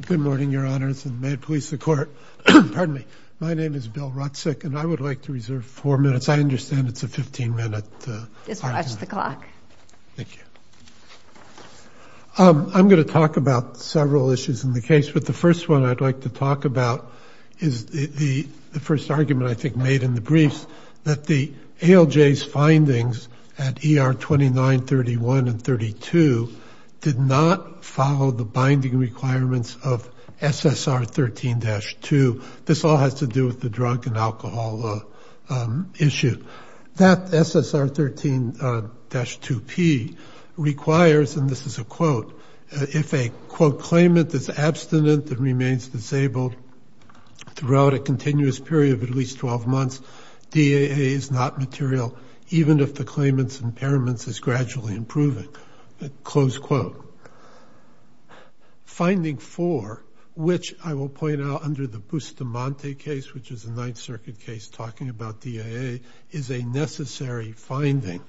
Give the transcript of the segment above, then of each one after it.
Good morning, your honors, and may it please the court. Pardon me. My name is Bill Rutzik, and I would like to reserve four minutes. I understand it's a 15-minute argument. Just watch the clock. Thank you. I'm going to talk about several issues in the case, but the first one I'd like to talk about is the first argument I think made in the briefs, that the ALJ's findings at ER 29, 31, and 32 did not follow the binding requirements of SSR 13-2. This all has to do with the drug and alcohol issue. That SSR 13-2P requires, and this is a quote, if a, quote, claimant is abstinent and remains disabled throughout a continuous period of at least 12 months, DAA is not material even if the claimant's impairments is gradually improving, close quote. Finding four, which I will point out under the Bustamante case, which is a Ninth Circuit case talking about DAA, is a necessary finding.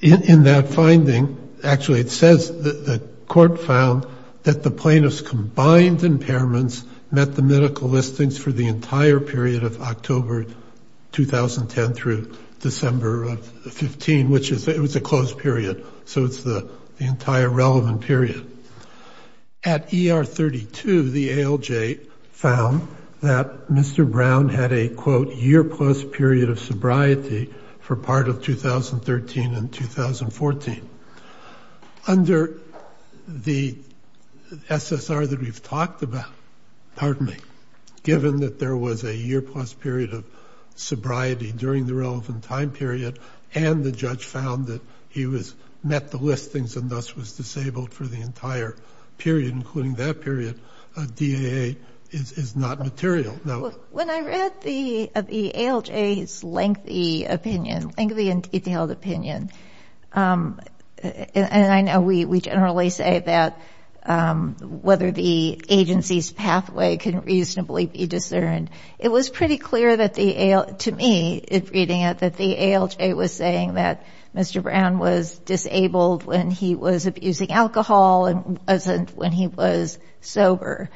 In that finding, actually it says that the court found that the plaintiff's combined impairments met the medical listings for the entire period of October 2010 through December of 15, which was a closed period. So it's the entire relevant period. At ER 32, the ALJ found that Mr. Brown had a, quote, year plus period of sobriety for part of 2013 and 2014. Under the SSR that we've talked about, pardon me, given that there was a year plus period of sobriety during the relevant time period, and the judge found that he met the listings and thus was disabled for the entire period, including that period, DAA is not material. Now, when I read the ALJ's lengthy opinion, lengthy and detailed opinion, and I know we generally say that whether the agency's pathway can reasonably be discerned, it was pretty clear to me in reading it that the ALJ was saying that Mr. Brown was disabled when he was abusing alcohol and wasn't when he was sober.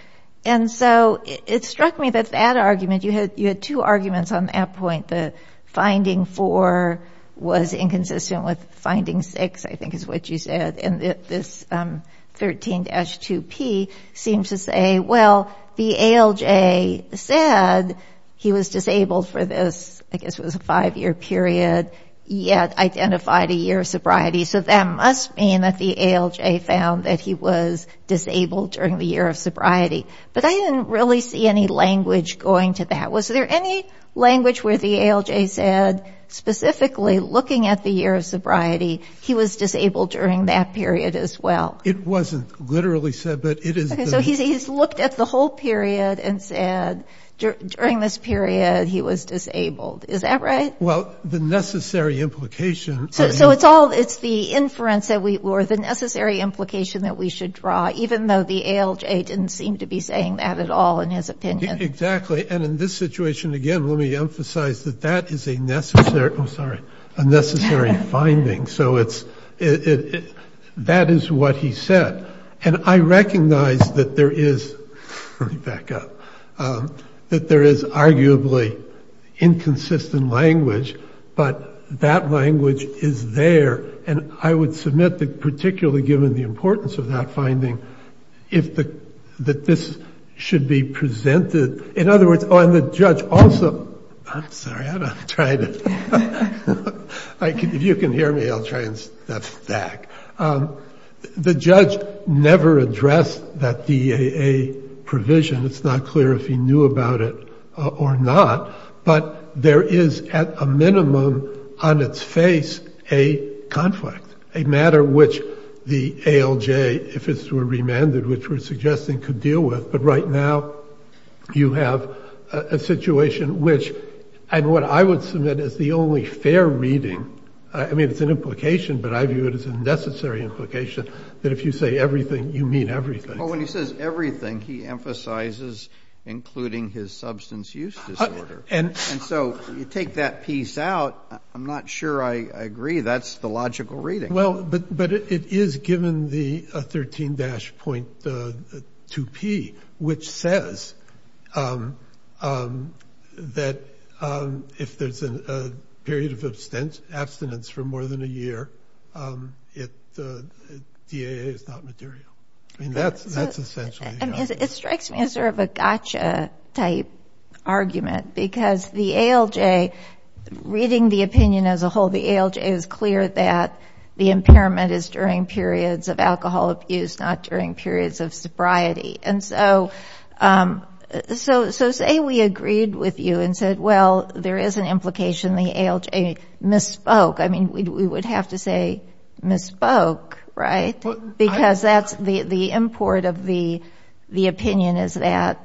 And so it struck me that that argument, you had two arguments on that point, the finding four was inconsistent with finding six, I think is what you said, and this 13-2P seems to say, well, the ALJ said he was disabled for this, I guess it was a five-year period, yet identified a year of sobriety. So that must mean that the ALJ found that he was disabled during the year of sobriety. But I didn't really see any language going to that. Was there any language where the ALJ said specifically looking at the year of sobriety, he was disabled during that period as well? It wasn't literally said, but it is. So he's looked at the whole period and said during this period he was disabled. Is that right? Well, the necessary implication. So it's all, it's the inference that we, or the necessary implication that we should draw, even though the ALJ didn't seem to be saying that at all in his opinion. Exactly. And in this situation, again, let me emphasize that that is a necessary, oh, sorry, a necessary finding. So it's, that is what he said. And I recognize that there is, let me back up, that there is arguably inconsistent language, but that language is there. And I would submit that particularly given the importance of that finding, if the, that this should be presented. In other words, oh, and the judge also, I'm sorry, I'm trying to, if you can hear me, I'll try and step back. The judge never addressed that DEAA provision. It's not clear if he knew about it or not. But there is at a minimum on its face a conflict, a matter which the ALJ, if it were remanded, which we're suggesting could deal with. But right now you have a situation which, and what I would submit is the only fair reading. I mean, it's an implication, but I view it as a necessary implication that if you say everything, you mean everything. Well, when he says everything, he emphasizes including his substance use disorder. And so you take that piece out. I'm not sure I agree. That's the logical reading. Well, but it is given the 13-.2p, which says that if there's a period of abstinence for more than a year, DEAA is not material. I mean, that's essentially the argument. It strikes me as sort of a gotcha type argument, because the ALJ, reading the opinion as a whole, the ALJ is clear that the impairment is during periods of alcohol abuse, not during periods of sobriety. And so say we agreed with you and said, well, there is an implication the ALJ misspoke. I mean, we would have to say misspoke, right? Because that's the import of the opinion is that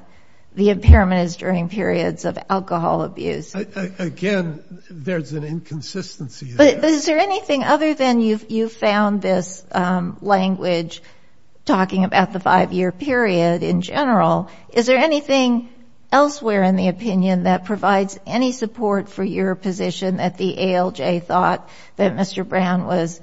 the impairment is during periods of alcohol abuse. Again, there's an inconsistency there. But is there anything other than you've found this language talking about the five-year period in general? Is there anything elsewhere in the opinion that provides any support for your position that the ALJ thought that Mr. Brown was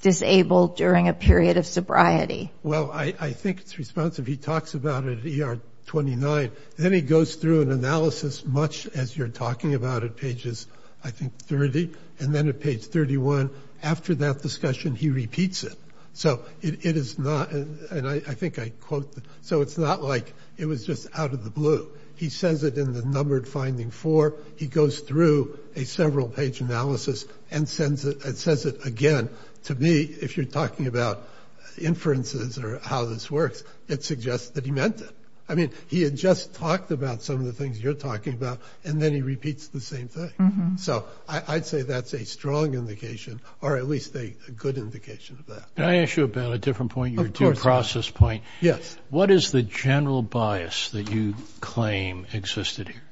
disabled during a period of sobriety? Well, I think it's responsive. He talks about it at ER 29. Then he goes through an analysis, much as you're talking about it, pages, I think, 30. And then at page 31, after that discussion, he repeats it. So it is not, and I think I quote, so it's not like it was just out of the blue. He says it in the numbered finding four. He goes through a several-page analysis and says it again. To me, if you're talking about inferences or how this works, it suggests that he meant it. I mean, he had just talked about some of the things you're talking about, and then he repeats the same thing. So I'd say that's a strong indication, or at least a good indication of that. Can I ask you about a different point, your due process point? Yes. What is the general bias that you claim existed here?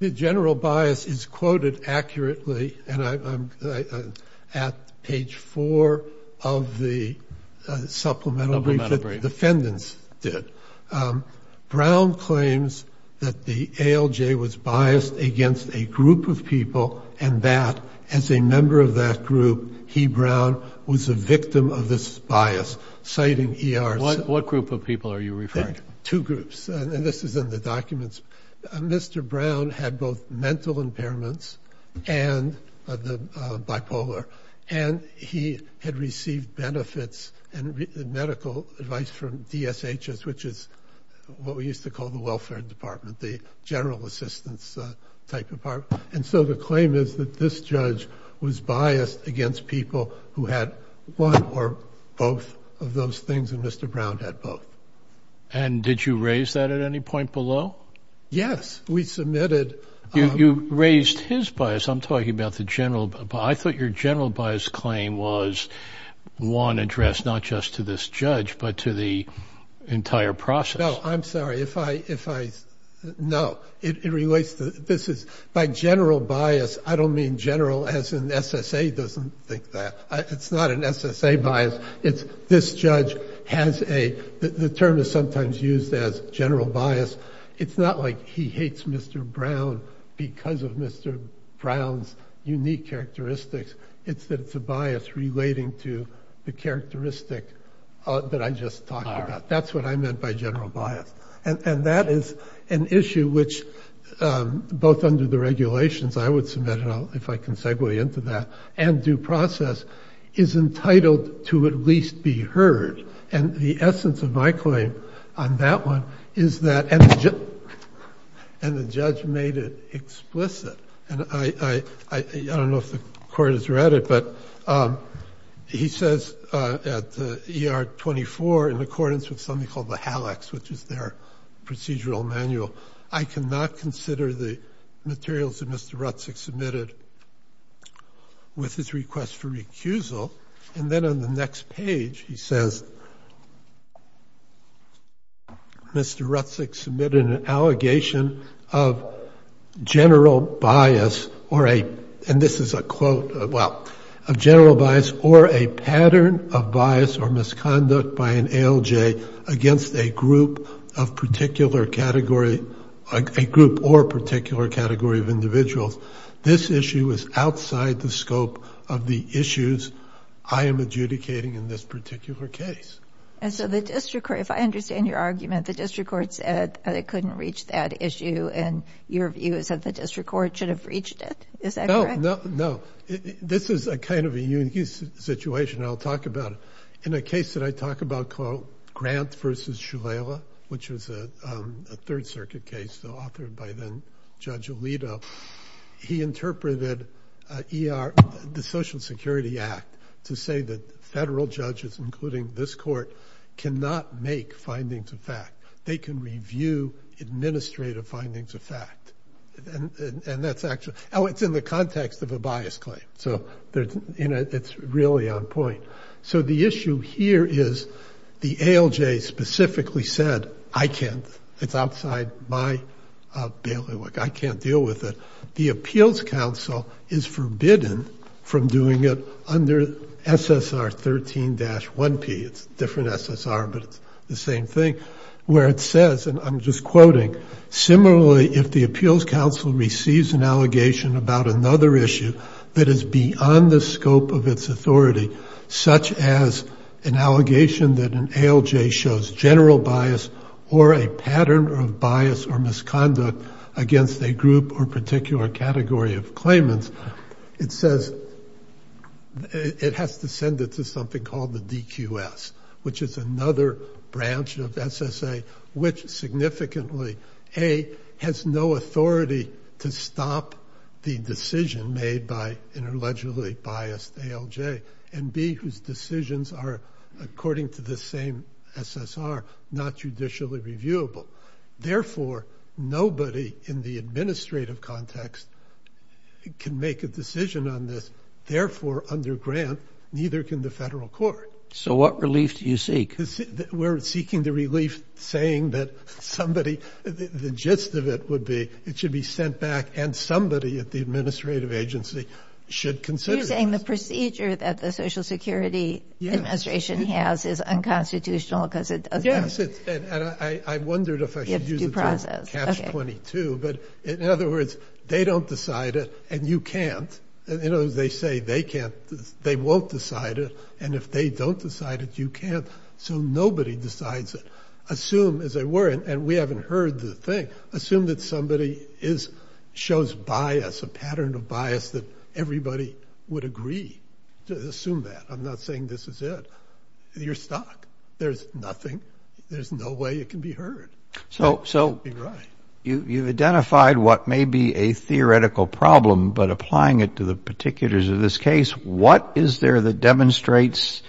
The general bias is quoted accurately, and I'm at page four of the supplemental brief that defendants did. Brown claims that the ALJ was biased against a group of people and that, as a member of that group, he, Brown, was a victim of this bias, citing ERC. What group of people are you referring to? Two groups, and this is in the documents. Mr. Brown had both mental impairments and the bipolar, and he had received benefits and medical advice from DSHS, which is what we used to call the welfare department, the general assistance type department. And so the claim is that this judge was biased against people who had one or both of those things, and Mr. Brown had both. And did you raise that at any point below? Yes, we submitted. You raised his bias. I'm talking about the general bias. I thought your general bias claim was one addressed not just to this judge but to the entire process. No, I'm sorry. If I – no. It relates to – this is – by general bias, I don't mean general as in SSA doesn't think that. It's not an SSA bias. It's this judge has a – the term is sometimes used as general bias. It's not like he hates Mr. Brown because of Mr. Brown's unique characteristics. It's that it's a bias relating to the characteristic that I just talked about. That's what I meant by general bias. And that is an issue which, both under the regulations – I would submit it if I can segue into that – and due process is entitled to at least be heard. And the essence of my claim on that one is that – and the judge made it explicit. And I don't know if the court has read it, but he says at ER 24, in accordance with something called the HALEX, which is their procedural manual, I cannot consider the materials that Mr. Rutzig submitted with his request for recusal. And then on the next page he says, Mr. Rutzig submitted an allegation of general bias or a – and this is a quote – well, of general bias or a pattern of bias or misconduct by an ALJ against a group of particular category – this issue is outside the scope of the issues I am adjudicating in this particular case. And so the district court – if I understand your argument, the district court said it couldn't reach that issue and your view is that the district court should have reached it. Is that correct? No, no. This is a kind of a unique situation. I'll talk about it. In a case that I talk about called Grant v. Shulela, which was a Third Circuit case authored by then-Judge Alito, he interpreted the Social Security Act to say that federal judges, including this court, cannot make findings of fact. They can review administrative findings of fact. And that's actually – oh, it's in the context of a bias claim, so it's really on point. So the issue here is the ALJ specifically said, I can't – it's outside my bailiwick. I can't deal with it. The Appeals Council is forbidden from doing it under SSR 13-1P. It's a different SSR, but it's the same thing, where it says – and I'm just quoting – similarly, if the Appeals Council receives an allegation about another issue that is beyond the scope of its authority, such as an allegation that an ALJ shows general bias or a pattern of bias or misconduct against a group or particular category of claimants, it says – it has to send it to something called the DQS, which is another branch of SSA, which significantly, A, has no authority to stop the decision made by an allegedly biased ALJ, and B, whose decisions are, according to the same SSR, not judicially reviewable. Therefore, nobody in the administrative context can make a decision on this. Therefore, under Grant, neither can the federal court. So what relief do you seek? Because we're seeking the relief saying that somebody – the gist of it would be it should be sent back and somebody at the administrative agency should consider this. You're saying the procedure that the Social Security Administration has is unconstitutional because it doesn't – Yes, and I wondered if I should use the term catch-22. But in other words, they don't decide it and you can't. In other words, they say they can't – they won't decide it. And if they don't decide it, you can't. So nobody decides it. Assume, as they were – and we haven't heard the thing – assume that somebody is – shows bias, a pattern of bias that everybody would agree. Assume that. I'm not saying this is it. You're stuck. There's nothing. There's no way it can be heard. So you've identified what may be a theoretical problem, but applying it to the particulars of this case, what is there that demonstrates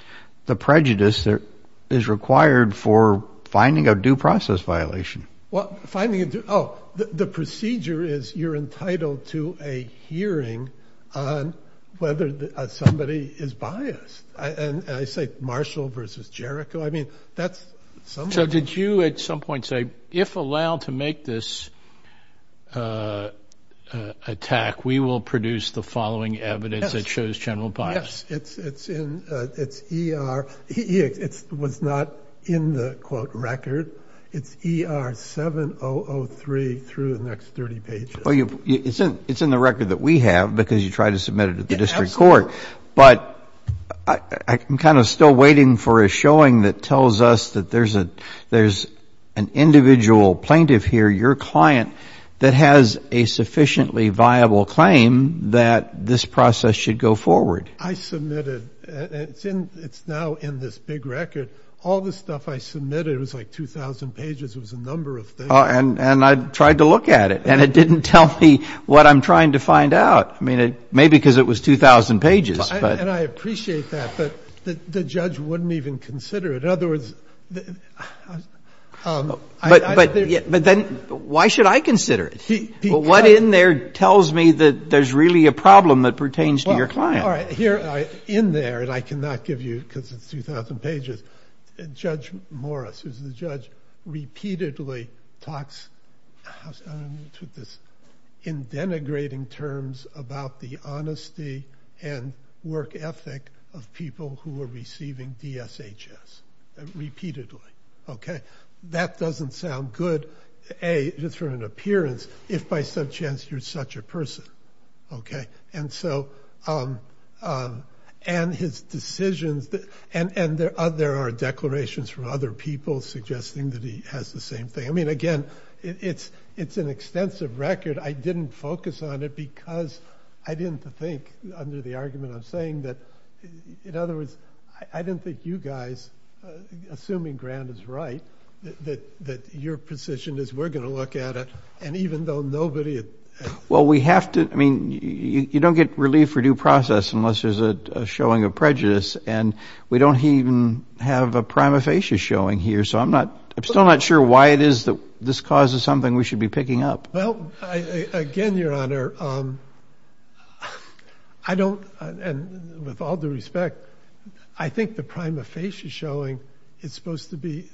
the prejudice that is required for finding a due process violation? Well, finding a due – oh, the procedure is you're entitled to a hearing on whether somebody is biased. And I say Marshall versus Jericho. I mean, that's – So did you at some point say, if allowed to make this attack, we will produce the following evidence that shows general bias? Yes. It's in – it's ER – it was not in the, quote, record. It's ER 7003 through the next 30 pages. It's in the record that we have because you tried to submit it at the district court. But I'm kind of still waiting for a showing that tells us that there's an individual plaintiff here, your client, that has a sufficiently viable claim that this process should go forward. I submitted – it's now in this big record. All the stuff I submitted was like 2,000 pages. It was a number of things. And I tried to look at it, and it didn't tell me what I'm trying to find out. I mean, maybe because it was 2,000 pages. And I appreciate that, but the judge wouldn't even consider it. In other words – But then why should I consider it? Because – Well, what in there tells me that there's really a problem that pertains to your client? All right. In there, and I cannot give you because it's 2,000 pages, Judge Morris, who's the judge, repeatedly talks in denigrating terms about the honesty and work ethic of people who are receiving DSHS, repeatedly. Okay? That doesn't sound good, A, just for an appearance, if by some chance you're such a person. Okay? And so – and his decisions – and there are declarations from other people suggesting that he has the same thing. I mean, again, it's an extensive record. I didn't focus on it because I didn't think, under the argument I'm saying, that – in other words, I didn't think you guys, assuming Grant is right, that your position is we're going to look at it, and even though nobody – Well, we have to – I mean, you don't get relief for due process unless there's a showing of prejudice, and we don't even have a prima facie showing here, so I'm not – I'm still not sure why it is that this causes something we should be picking up. Well, again, Your Honor, I don't – and with all due respect, I think the prima facie showing is supposed to be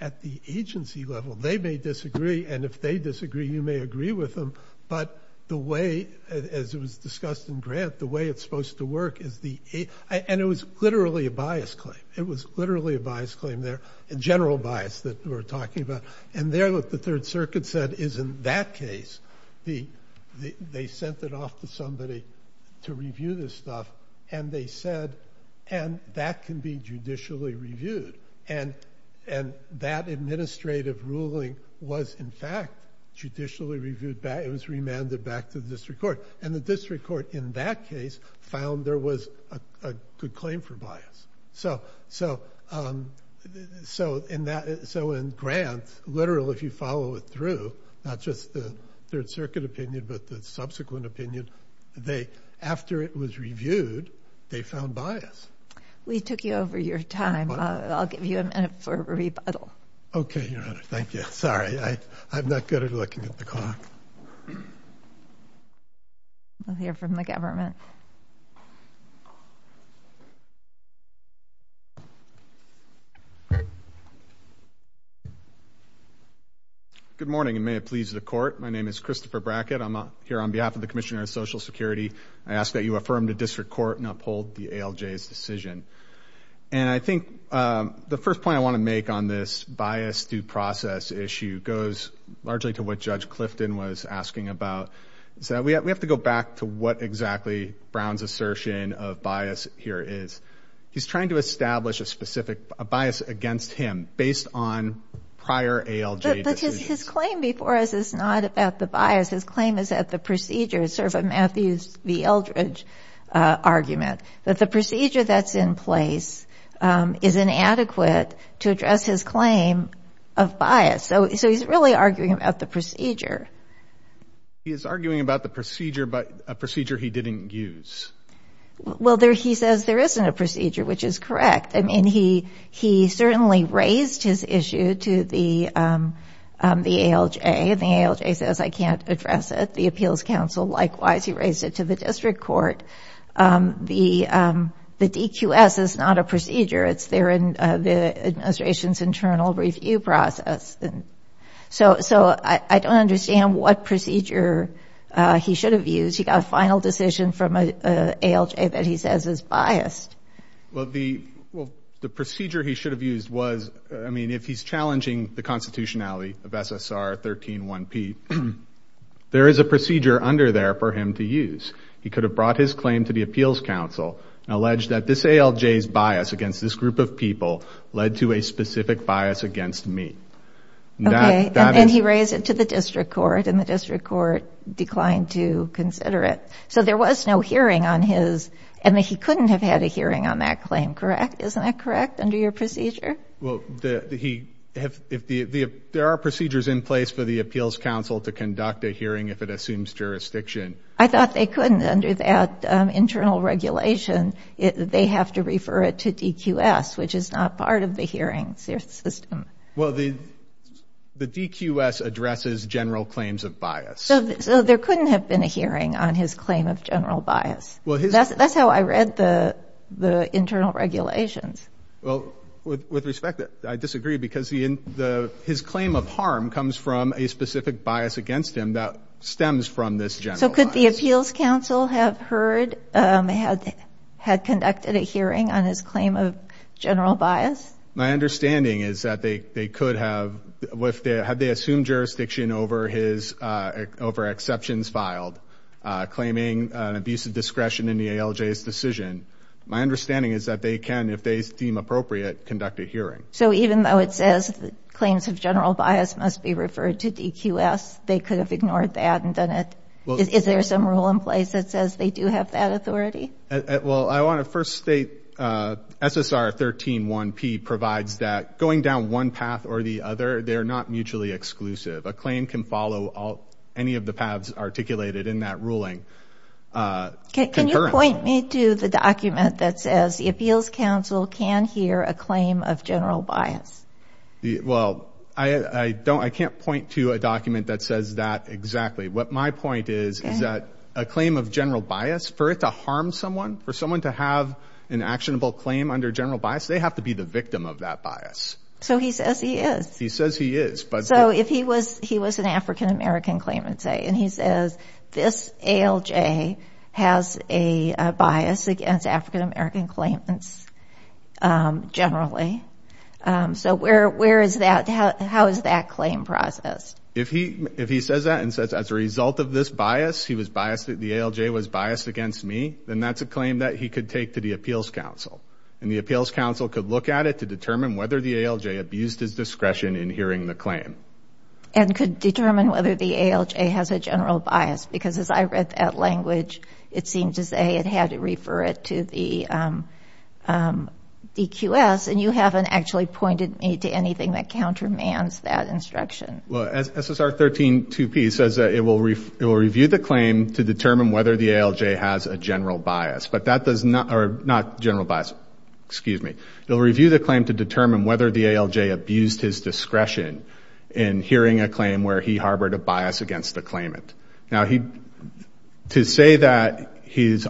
at the agency level. They may disagree, and if they disagree, you may agree with them, but the way – as it was discussed in Grant, the way it's supposed to work is the – and it was literally a bias claim. It was literally a bias claim there, a general bias that we're talking about. And there, what the Third Circuit said is in that case, they sent it off to somebody to review this stuff, and they said, and that can be judicially reviewed, and that administrative ruling was in fact judicially reviewed back – it was remanded back to the district court, and the district court in that case found there was a good claim for bias. So in that – so in Grant, literally, if you follow it through, not just the Third Circuit opinion, but the subsequent opinion, they – after it was reviewed, they found bias. We took you over your time. I'll give you a minute for a rebuttal. Okay, Your Honor. Thank you. Sorry. I'm not good at looking at the clock. We'll hear from the government. Okay. Good morning, and may it please the Court. My name is Christopher Brackett. I'm here on behalf of the Commissioner of Social Security. I ask that you affirm the district court and uphold the ALJ's decision. And I think the first point I want to make on this bias due process issue goes largely to what Judge Clifton was asking about, is that we have to go back to what exactly Brown's assertion of bias here is. He's trying to establish a specific – a bias against him based on prior ALJ decisions. But his claim before us is not about the bias. His claim is that the procedure is sort of a Matthews v. Eldridge argument, that the procedure that's in place is inadequate to address his claim of bias. So he's really arguing about the procedure. He is arguing about the procedure, but a procedure he didn't use. Well, he says there isn't a procedure, which is correct. I mean, he certainly raised his issue to the ALJ, and the ALJ says, I can't address it. The Appeals Council, likewise, he raised it to the district court. The DQS is not a procedure. It's there in the administration's internal review process. So I don't understand what procedure he should have used. He got a final decision from an ALJ that he says is biased. Well, the procedure he should have used was – I mean, if he's challenging the constitutionality of SSR 13-1P, there is a procedure under there for him to use. He could have brought his claim to the Appeals Council and alleged that this ALJ's bias against this group of people led to a specific bias against me. Okay, and then he raised it to the district court, and the district court declined to consider it. So there was no hearing on his – I mean, he couldn't have had a hearing on that claim, correct? Isn't that correct, under your procedure? Well, there are procedures in place for the Appeals Council to conduct a hearing if it assumes jurisdiction. I thought they couldn't. Under that internal regulation, they have to refer it to DQS, which is not part of the hearing system. Well, the DQS addresses general claims of bias. So there couldn't have been a hearing on his claim of general bias. That's how I read the internal regulations. Well, with respect, I disagree because his claim of harm comes from a specific bias against him that stems from this general bias. So could the Appeals Council have heard – had conducted a hearing on his claim of general bias? My understanding is that they could have. Had they assumed jurisdiction over exceptions filed, claiming an abuse of discretion in the ALJ's decision, my understanding is that they can, if they deem appropriate, conduct a hearing. So even though it says claims of general bias must be referred to DQS, they could have ignored that and done it? Is there some rule in place that says they do have that authority? Well, I want to first state SSR 13-1P provides that going down one path or the other, they're not mutually exclusive. A claim can follow any of the paths articulated in that ruling. Can you point me to the document that says the Appeals Council can hear a claim of general bias? Well, I don't – I can't point to a document that says that exactly. What my point is is that a claim of general bias, for it to harm someone, for someone to have an actionable claim under general bias, they have to be the victim of that bias. So he says he is. He says he is. So if he was an African-American claimant, say, and he says this ALJ has a bias against African-American claimants generally, so where is that – how is that claim processed? If he says that and says as a result of this bias, he was biased – the ALJ was biased against me, then that's a claim that he could take to the Appeals Council. And the Appeals Council could look at it to determine whether the ALJ abused his discretion in hearing the claim. And could determine whether the ALJ has a general bias? Because as I read that language, it seemed to say it had to refer it to the DQS, and you haven't actually pointed me to anything that countermands that instruction. Well, SSR 13-2P says that it will review the claim to determine whether the ALJ has a general bias. But that does not – or not general bias, excuse me. It will review the claim to determine whether the ALJ abused his discretion in hearing a claim where he harbored a bias against the claimant. Now, he – to say that he's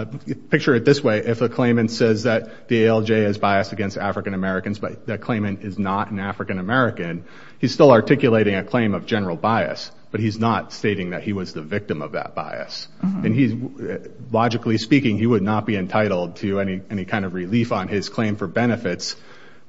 – picture it this way. If a claimant says that the ALJ is biased against African-Americans, but that claimant is not an African-American, he's still articulating a claim of general bias, but he's not stating that he was the victim of that bias. And he's – logically speaking, he would not be entitled to any kind of relief on his claim for benefits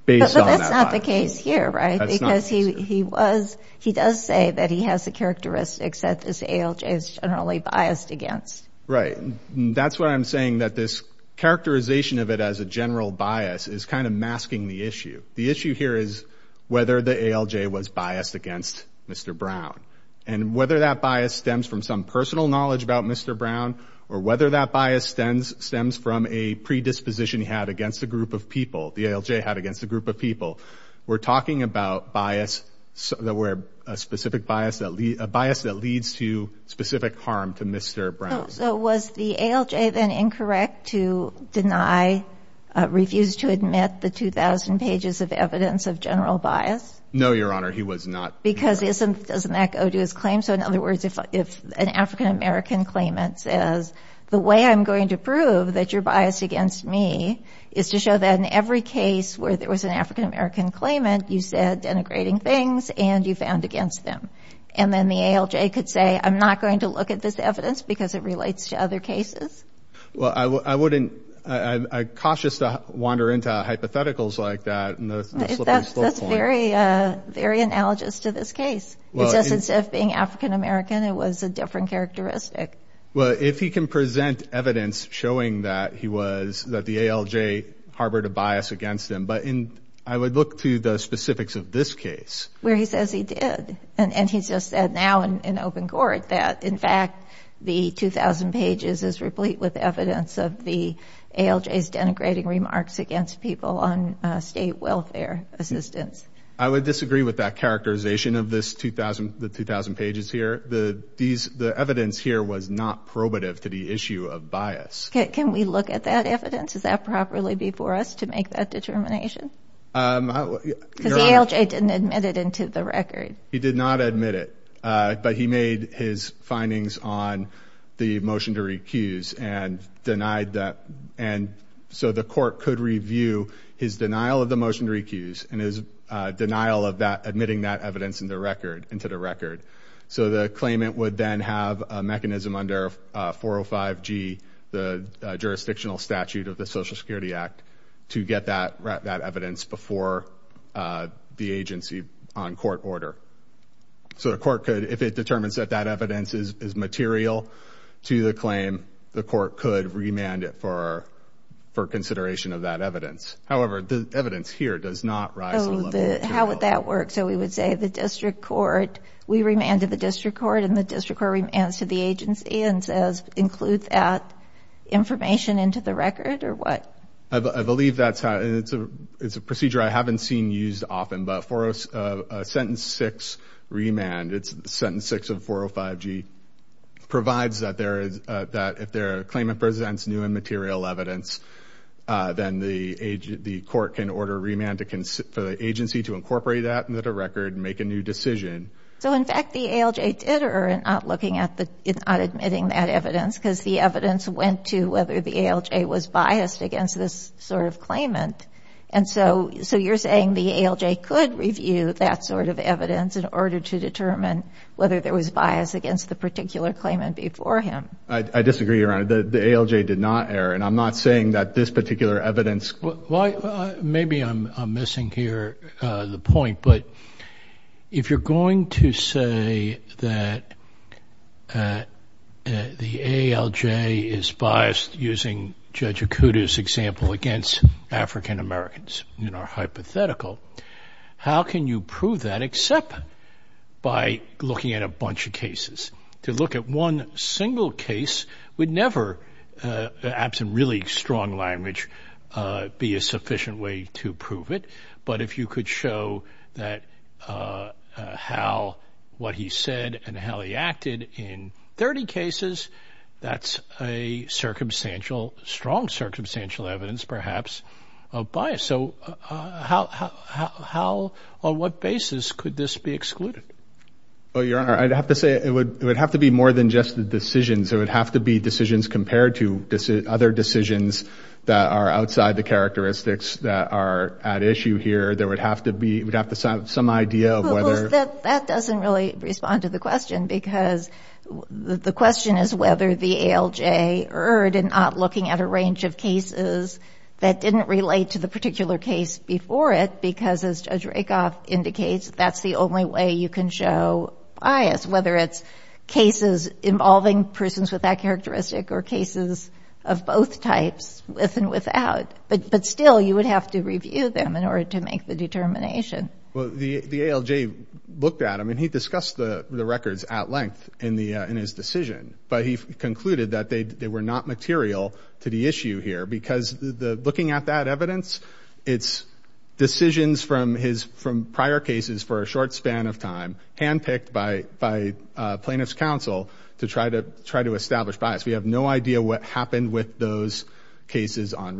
based on that bias. But that's not the case here, right? That's not the case here. Because he was – he does say that he has the characteristics that this ALJ is generally biased against. Right. That's what I'm saying, that this characterization of it as a general bias is kind of masking the issue. The issue here is whether the ALJ was biased against Mr. Brown. And whether that bias stems from some personal knowledge about Mr. Brown or whether that bias stems from a predisposition he had against a group of people, the ALJ had against a group of people. We're talking about bias that were – a specific bias that – a bias that leads to specific harm to Mr. Brown. So was the ALJ then incorrect to deny – refuse to admit the 2,000 pages of evidence of general bias? No, Your Honor. He was not. Because isn't – doesn't that go to his claim? So, in other words, if an African-American claimant says, the way I'm going to prove that you're biased against me is to show that in every case where there was an African-American claimant, you said denigrating things and you found against them. And then the ALJ could say, I'm not going to look at this evidence because it relates to other cases? Well, I wouldn't – I'm cautious to wander into hypotheticals like that. That's very analogous to this case. It's just instead of being African-American, it was a different characteristic. Well, if he can present evidence showing that he was – that the ALJ harbored a bias against him. But in – I would look to the specifics of this case. Where he says he did. And he's just said now in open court that, in fact, the 2,000 pages is replete with evidence of the ALJ's denigrating remarks against people on state welfare assistance. I would disagree with that characterization of this 2,000 – the 2,000 pages here. The evidence here was not probative to the issue of bias. Can we look at that evidence? Would that properly be for us to make that determination? Because the ALJ didn't admit it into the record. He did not admit it. But he made his findings on the motion to recuse and denied that. And so the court could review his denial of the motion to recuse and his denial of admitting that evidence into the record. So the claimant would then have a mechanism under 405G, the jurisdictional statute of the Social Security Act, to get that evidence before the agency on court order. So the court could – if it determines that that evidence is material to the claim, the court could remand it for consideration of that evidence. However, the evidence here does not rise to the level – Oh, the – how would that work? So we would say the district court – we remanded the district court and the district court remands to the agency and says include that information into the record or what? I believe that's how – it's a procedure I haven't seen used often. But for a sentence 6 remand, it's sentence 6 of 405G, provides that there is – that if the claimant presents new and material evidence, then the court can order remand for the agency to incorporate that into the record and make a new decision. So, in fact, the ALJ did err in not looking at the – in not admitting that evidence because the evidence went to whether the ALJ was biased against this sort of claimant. And so you're saying the ALJ could review that sort of evidence in order to determine whether there was bias against the particular claimant before him. I disagree, Your Honor. The ALJ did not err, and I'm not saying that this particular evidence – Well, maybe I'm missing here the point. But if you're going to say that the ALJ is biased, using Judge Okuda's example, against African Americans in our hypothetical, how can you prove that except by looking at a bunch of cases? To look at one single case would never, perhaps in really strong language, be a sufficient way to prove it. But if you could show that how – what he said and how he acted in 30 cases, that's a circumstantial – strong circumstantial evidence, perhaps, of bias. So how – on what basis could this be excluded? Well, Your Honor, I'd have to say it would have to be more than just the decisions. There would have to be decisions compared to other decisions that are outside the characteristics that are at issue here. There would have to be – we'd have to have some idea of whether – Well, that doesn't really respond to the question because the question is whether the ALJ erred in not looking at a range of cases that didn't relate to the particular case before it because that's the only way you can show bias, whether it's cases involving persons with that characteristic or cases of both types, with and without. But still, you would have to review them in order to make the determination. Well, the ALJ looked at them, and he discussed the records at length in his decision, but he concluded that they were not material to the issue here because looking at that evidence, it's decisions from his – from prior cases for a short span of time, handpicked by plaintiff's counsel to try to establish bias. We have no idea what happened with those cases on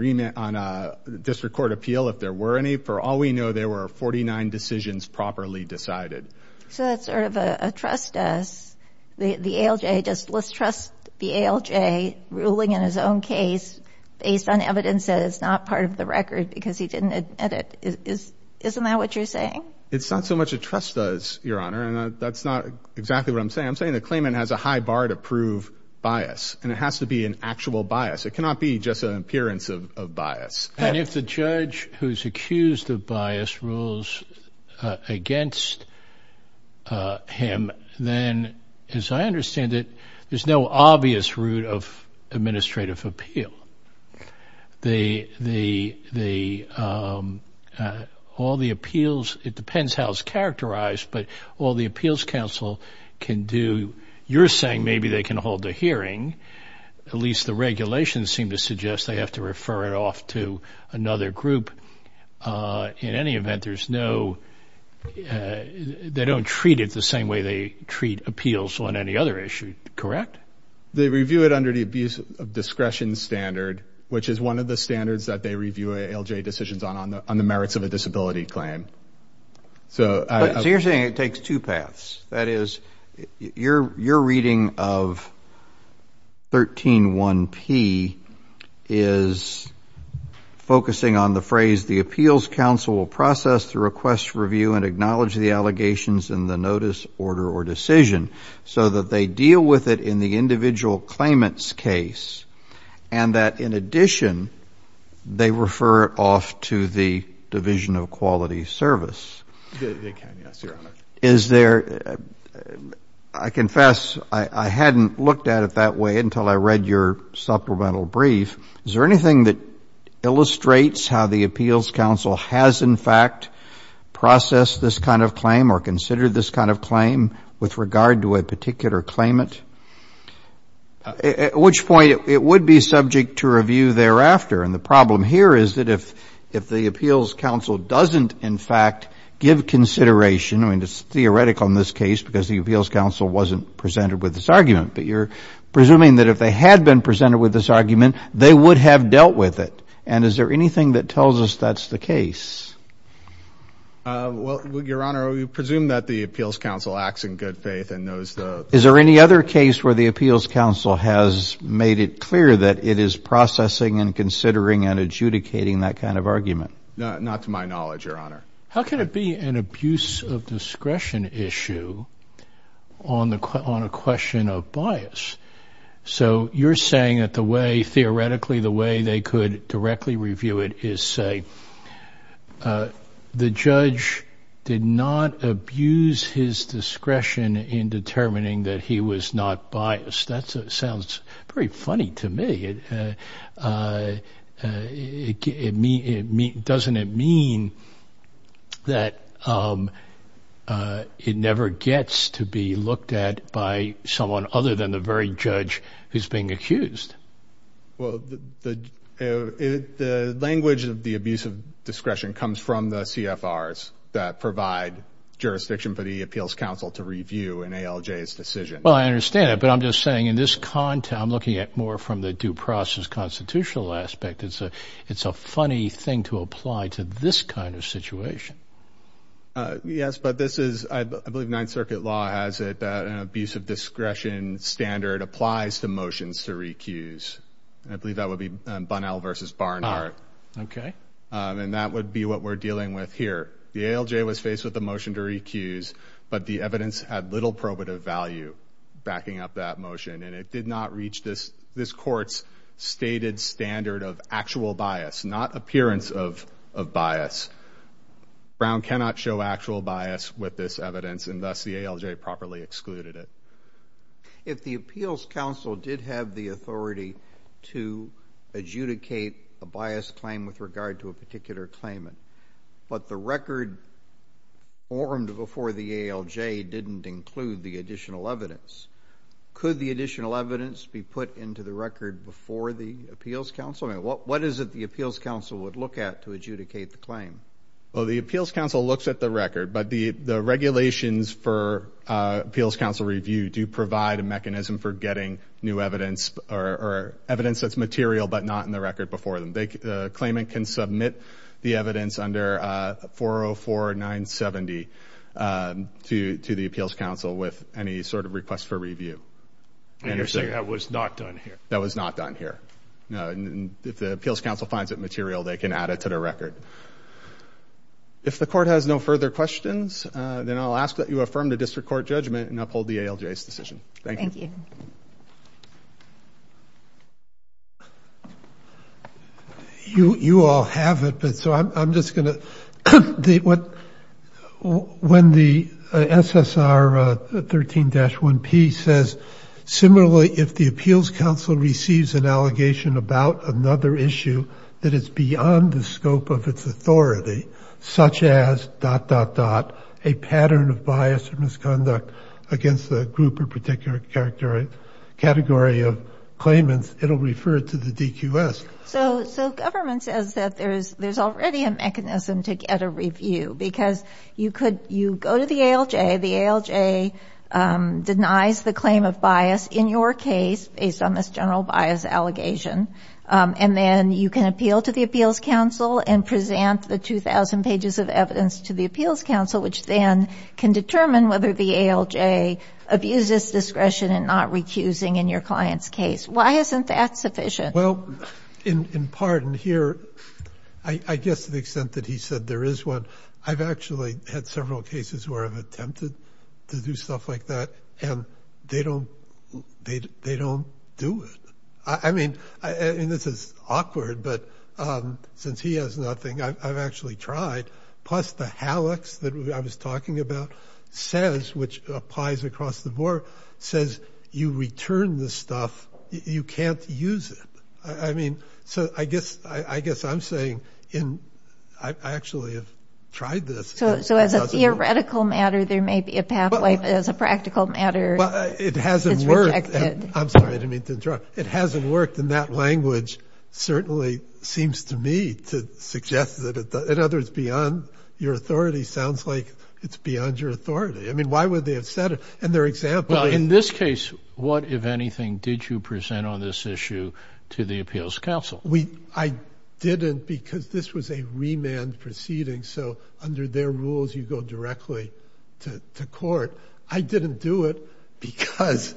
district court appeal, if there were any. For all we know, there were 49 decisions properly decided. So that's sort of a trust us. The ALJ just lists trust the ALJ ruling in his own case based on evidence that is not part of the record because he didn't admit it. Isn't that what you're saying? It's not so much a trust us, Your Honor, and that's not exactly what I'm saying. I'm saying the claimant has a high bar to prove bias, and it has to be an actual bias. It cannot be just an appearance of bias. And if the judge who's accused of bias rules against him, then, as I understand it, there's no obvious route of administrative appeal. The – all the appeals – it depends how it's characterized, but all the appeals counsel can do – you're saying maybe they can hold a hearing. At least the regulations seem to suggest they have to refer it off to another group. In any event, there's no – they don't treat it the same way they treat appeals on any other issue, correct? They review it under the abuse of discretion standard, which is one of the standards that they review ALJ decisions on, on the merits of a disability claim. So you're saying it takes two paths. That is, your reading of 131P is focusing on the phrase, the appeals counsel will process the request, review, and acknowledge the allegations in the notice, order, or decision, so that they deal with it in the individual claimant's case, and that, in addition, they refer it off to the Division of Quality Service. They can, yes, Your Honor. Is there – I confess I hadn't looked at it that way until I read your supplemental brief. Is there anything that illustrates how the appeals counsel has, in fact, processed this kind of claim or considered this kind of claim with regard to a particular claimant? At which point, it would be subject to review thereafter, and the problem here is that if the appeals counsel doesn't, in fact, give consideration – I mean, it's theoretical in this case because the appeals counsel wasn't presented with this argument, but you're presuming that if they had been presented with this argument, they would have dealt with it. And is there anything that tells us that's the case? Well, Your Honor, we presume that the appeals counsel acts in good faith and knows the – Is there any other case where the appeals counsel has made it clear that it is processing and considering and adjudicating that kind of argument? Not to my knowledge, Your Honor. How can it be an abuse of discretion issue on a question of bias? So you're saying that the way – theoretically, the way they could directly review it is, say, the judge did not abuse his discretion in determining that he was not biased. That sounds pretty funny to me. Doesn't it mean that it never gets to be looked at by someone other than the very judge who's being accused? Well, the language of the abuse of discretion comes from the CFRs that provide jurisdiction for the appeals counsel to review an ALJ's decision. Well, I understand that, but I'm just saying in this – I'm looking at more from the due process constitutional aspect. It's a funny thing to apply to this kind of situation. Yes, but this is – I believe Ninth Circuit law has it that an abuse of discretion standard applies to motions to recuse. I believe that would be Bunnell v. Barnhart. Okay. And that would be what we're dealing with here. The ALJ was faced with a motion to recuse, but the evidence had little probative value backing up that motion, and it did not reach this court's stated standard of actual bias, not appearance of bias. Brown cannot show actual bias with this evidence, and thus the ALJ properly excluded it. If the appeals counsel did have the authority to adjudicate a biased claim with regard to a particular claimant, but the record formed before the ALJ didn't include the additional evidence, could the additional evidence be put into the record before the appeals counsel? I mean, what is it the appeals counsel would look at to adjudicate the claim? Well, the appeals counsel looks at the record, but the regulations for appeals counsel review do provide a mechanism for getting new evidence or evidence that's material but not in the record before them. The claimant can submit the evidence under 404970 to the appeals counsel with any sort of request for review. And you're saying that was not done here? That was not done here. If the appeals counsel finds it material, they can add it to the record. If the court has no further questions, then I'll ask that you affirm the district court judgment and uphold the ALJ's decision. Thank you. Thank you. You all have it, but so I'm just going to, when the SSR 13-1P says similarly if the appeals counsel receives an allegation about another issue that is beyond the scope of its authority, such as dot, dot, dot, a pattern of bias or misconduct against a group or particular category of claimants, it will refer it to the DQS. So government says that there's already a mechanism to get a review because you could, you go to the ALJ, the ALJ denies the claim of bias in your case, based on this general bias allegation, and then you can appeal to the appeals counsel and present the 2,000 pages of evidence to the appeals counsel, which then can determine whether the ALJ abuses discretion in not recusing in your client's case. Why isn't that sufficient? Well, in part, and here, I guess to the extent that he said there is one, I've actually had several cases where I've attempted to do stuff like that, and they don't do it. I mean, and this is awkward, but since he has nothing, I've actually tried. Plus the hallux that I was talking about says, which applies across the board, says you return the stuff, you can't use it. I mean, so I guess I'm saying in, I actually have tried this. So as a theoretical matter, there may be a pathway, but as a practical matter, it's rejected. I'm sorry, I didn't mean to interrupt. It hasn't worked, and that language certainly seems to me to suggest that it does. In other words, beyond your authority sounds like it's beyond your authority. I mean, why would they have said it? In this case, what, if anything, did you present on this issue to the appeals counsel? I didn't because this was a remand proceeding, so under their rules, you go directly to court. I didn't do it because,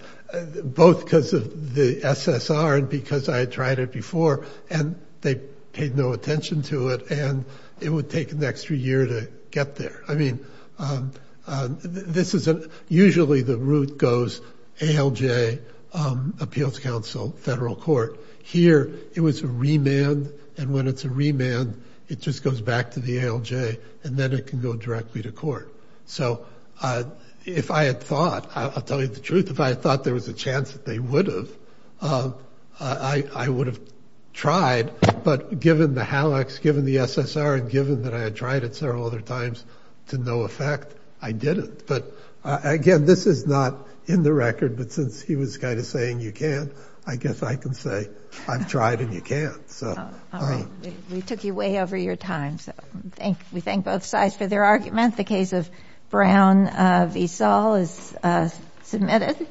both because of the SSR and because I had tried it before, and they paid no attention to it, and it would take an extra year to get there. I mean, this isn't, usually the route goes ALJ, appeals counsel, federal court. Here, it was a remand, and when it's a remand, it just goes back to the ALJ, and then it can go directly to court. So if I had thought, I'll tell you the truth, if I had thought there was a chance that they would have, I would have tried, but given the HALEX, given the SSR, and given that I had tried it several other times to no effect, I didn't. But again, this is not in the record, but since he was kind of saying you can't, I guess I can say I've tried and you can't. All right, we took you way over your time, so we thank both sides for their argument. The case of Brown v. Saul is submitted.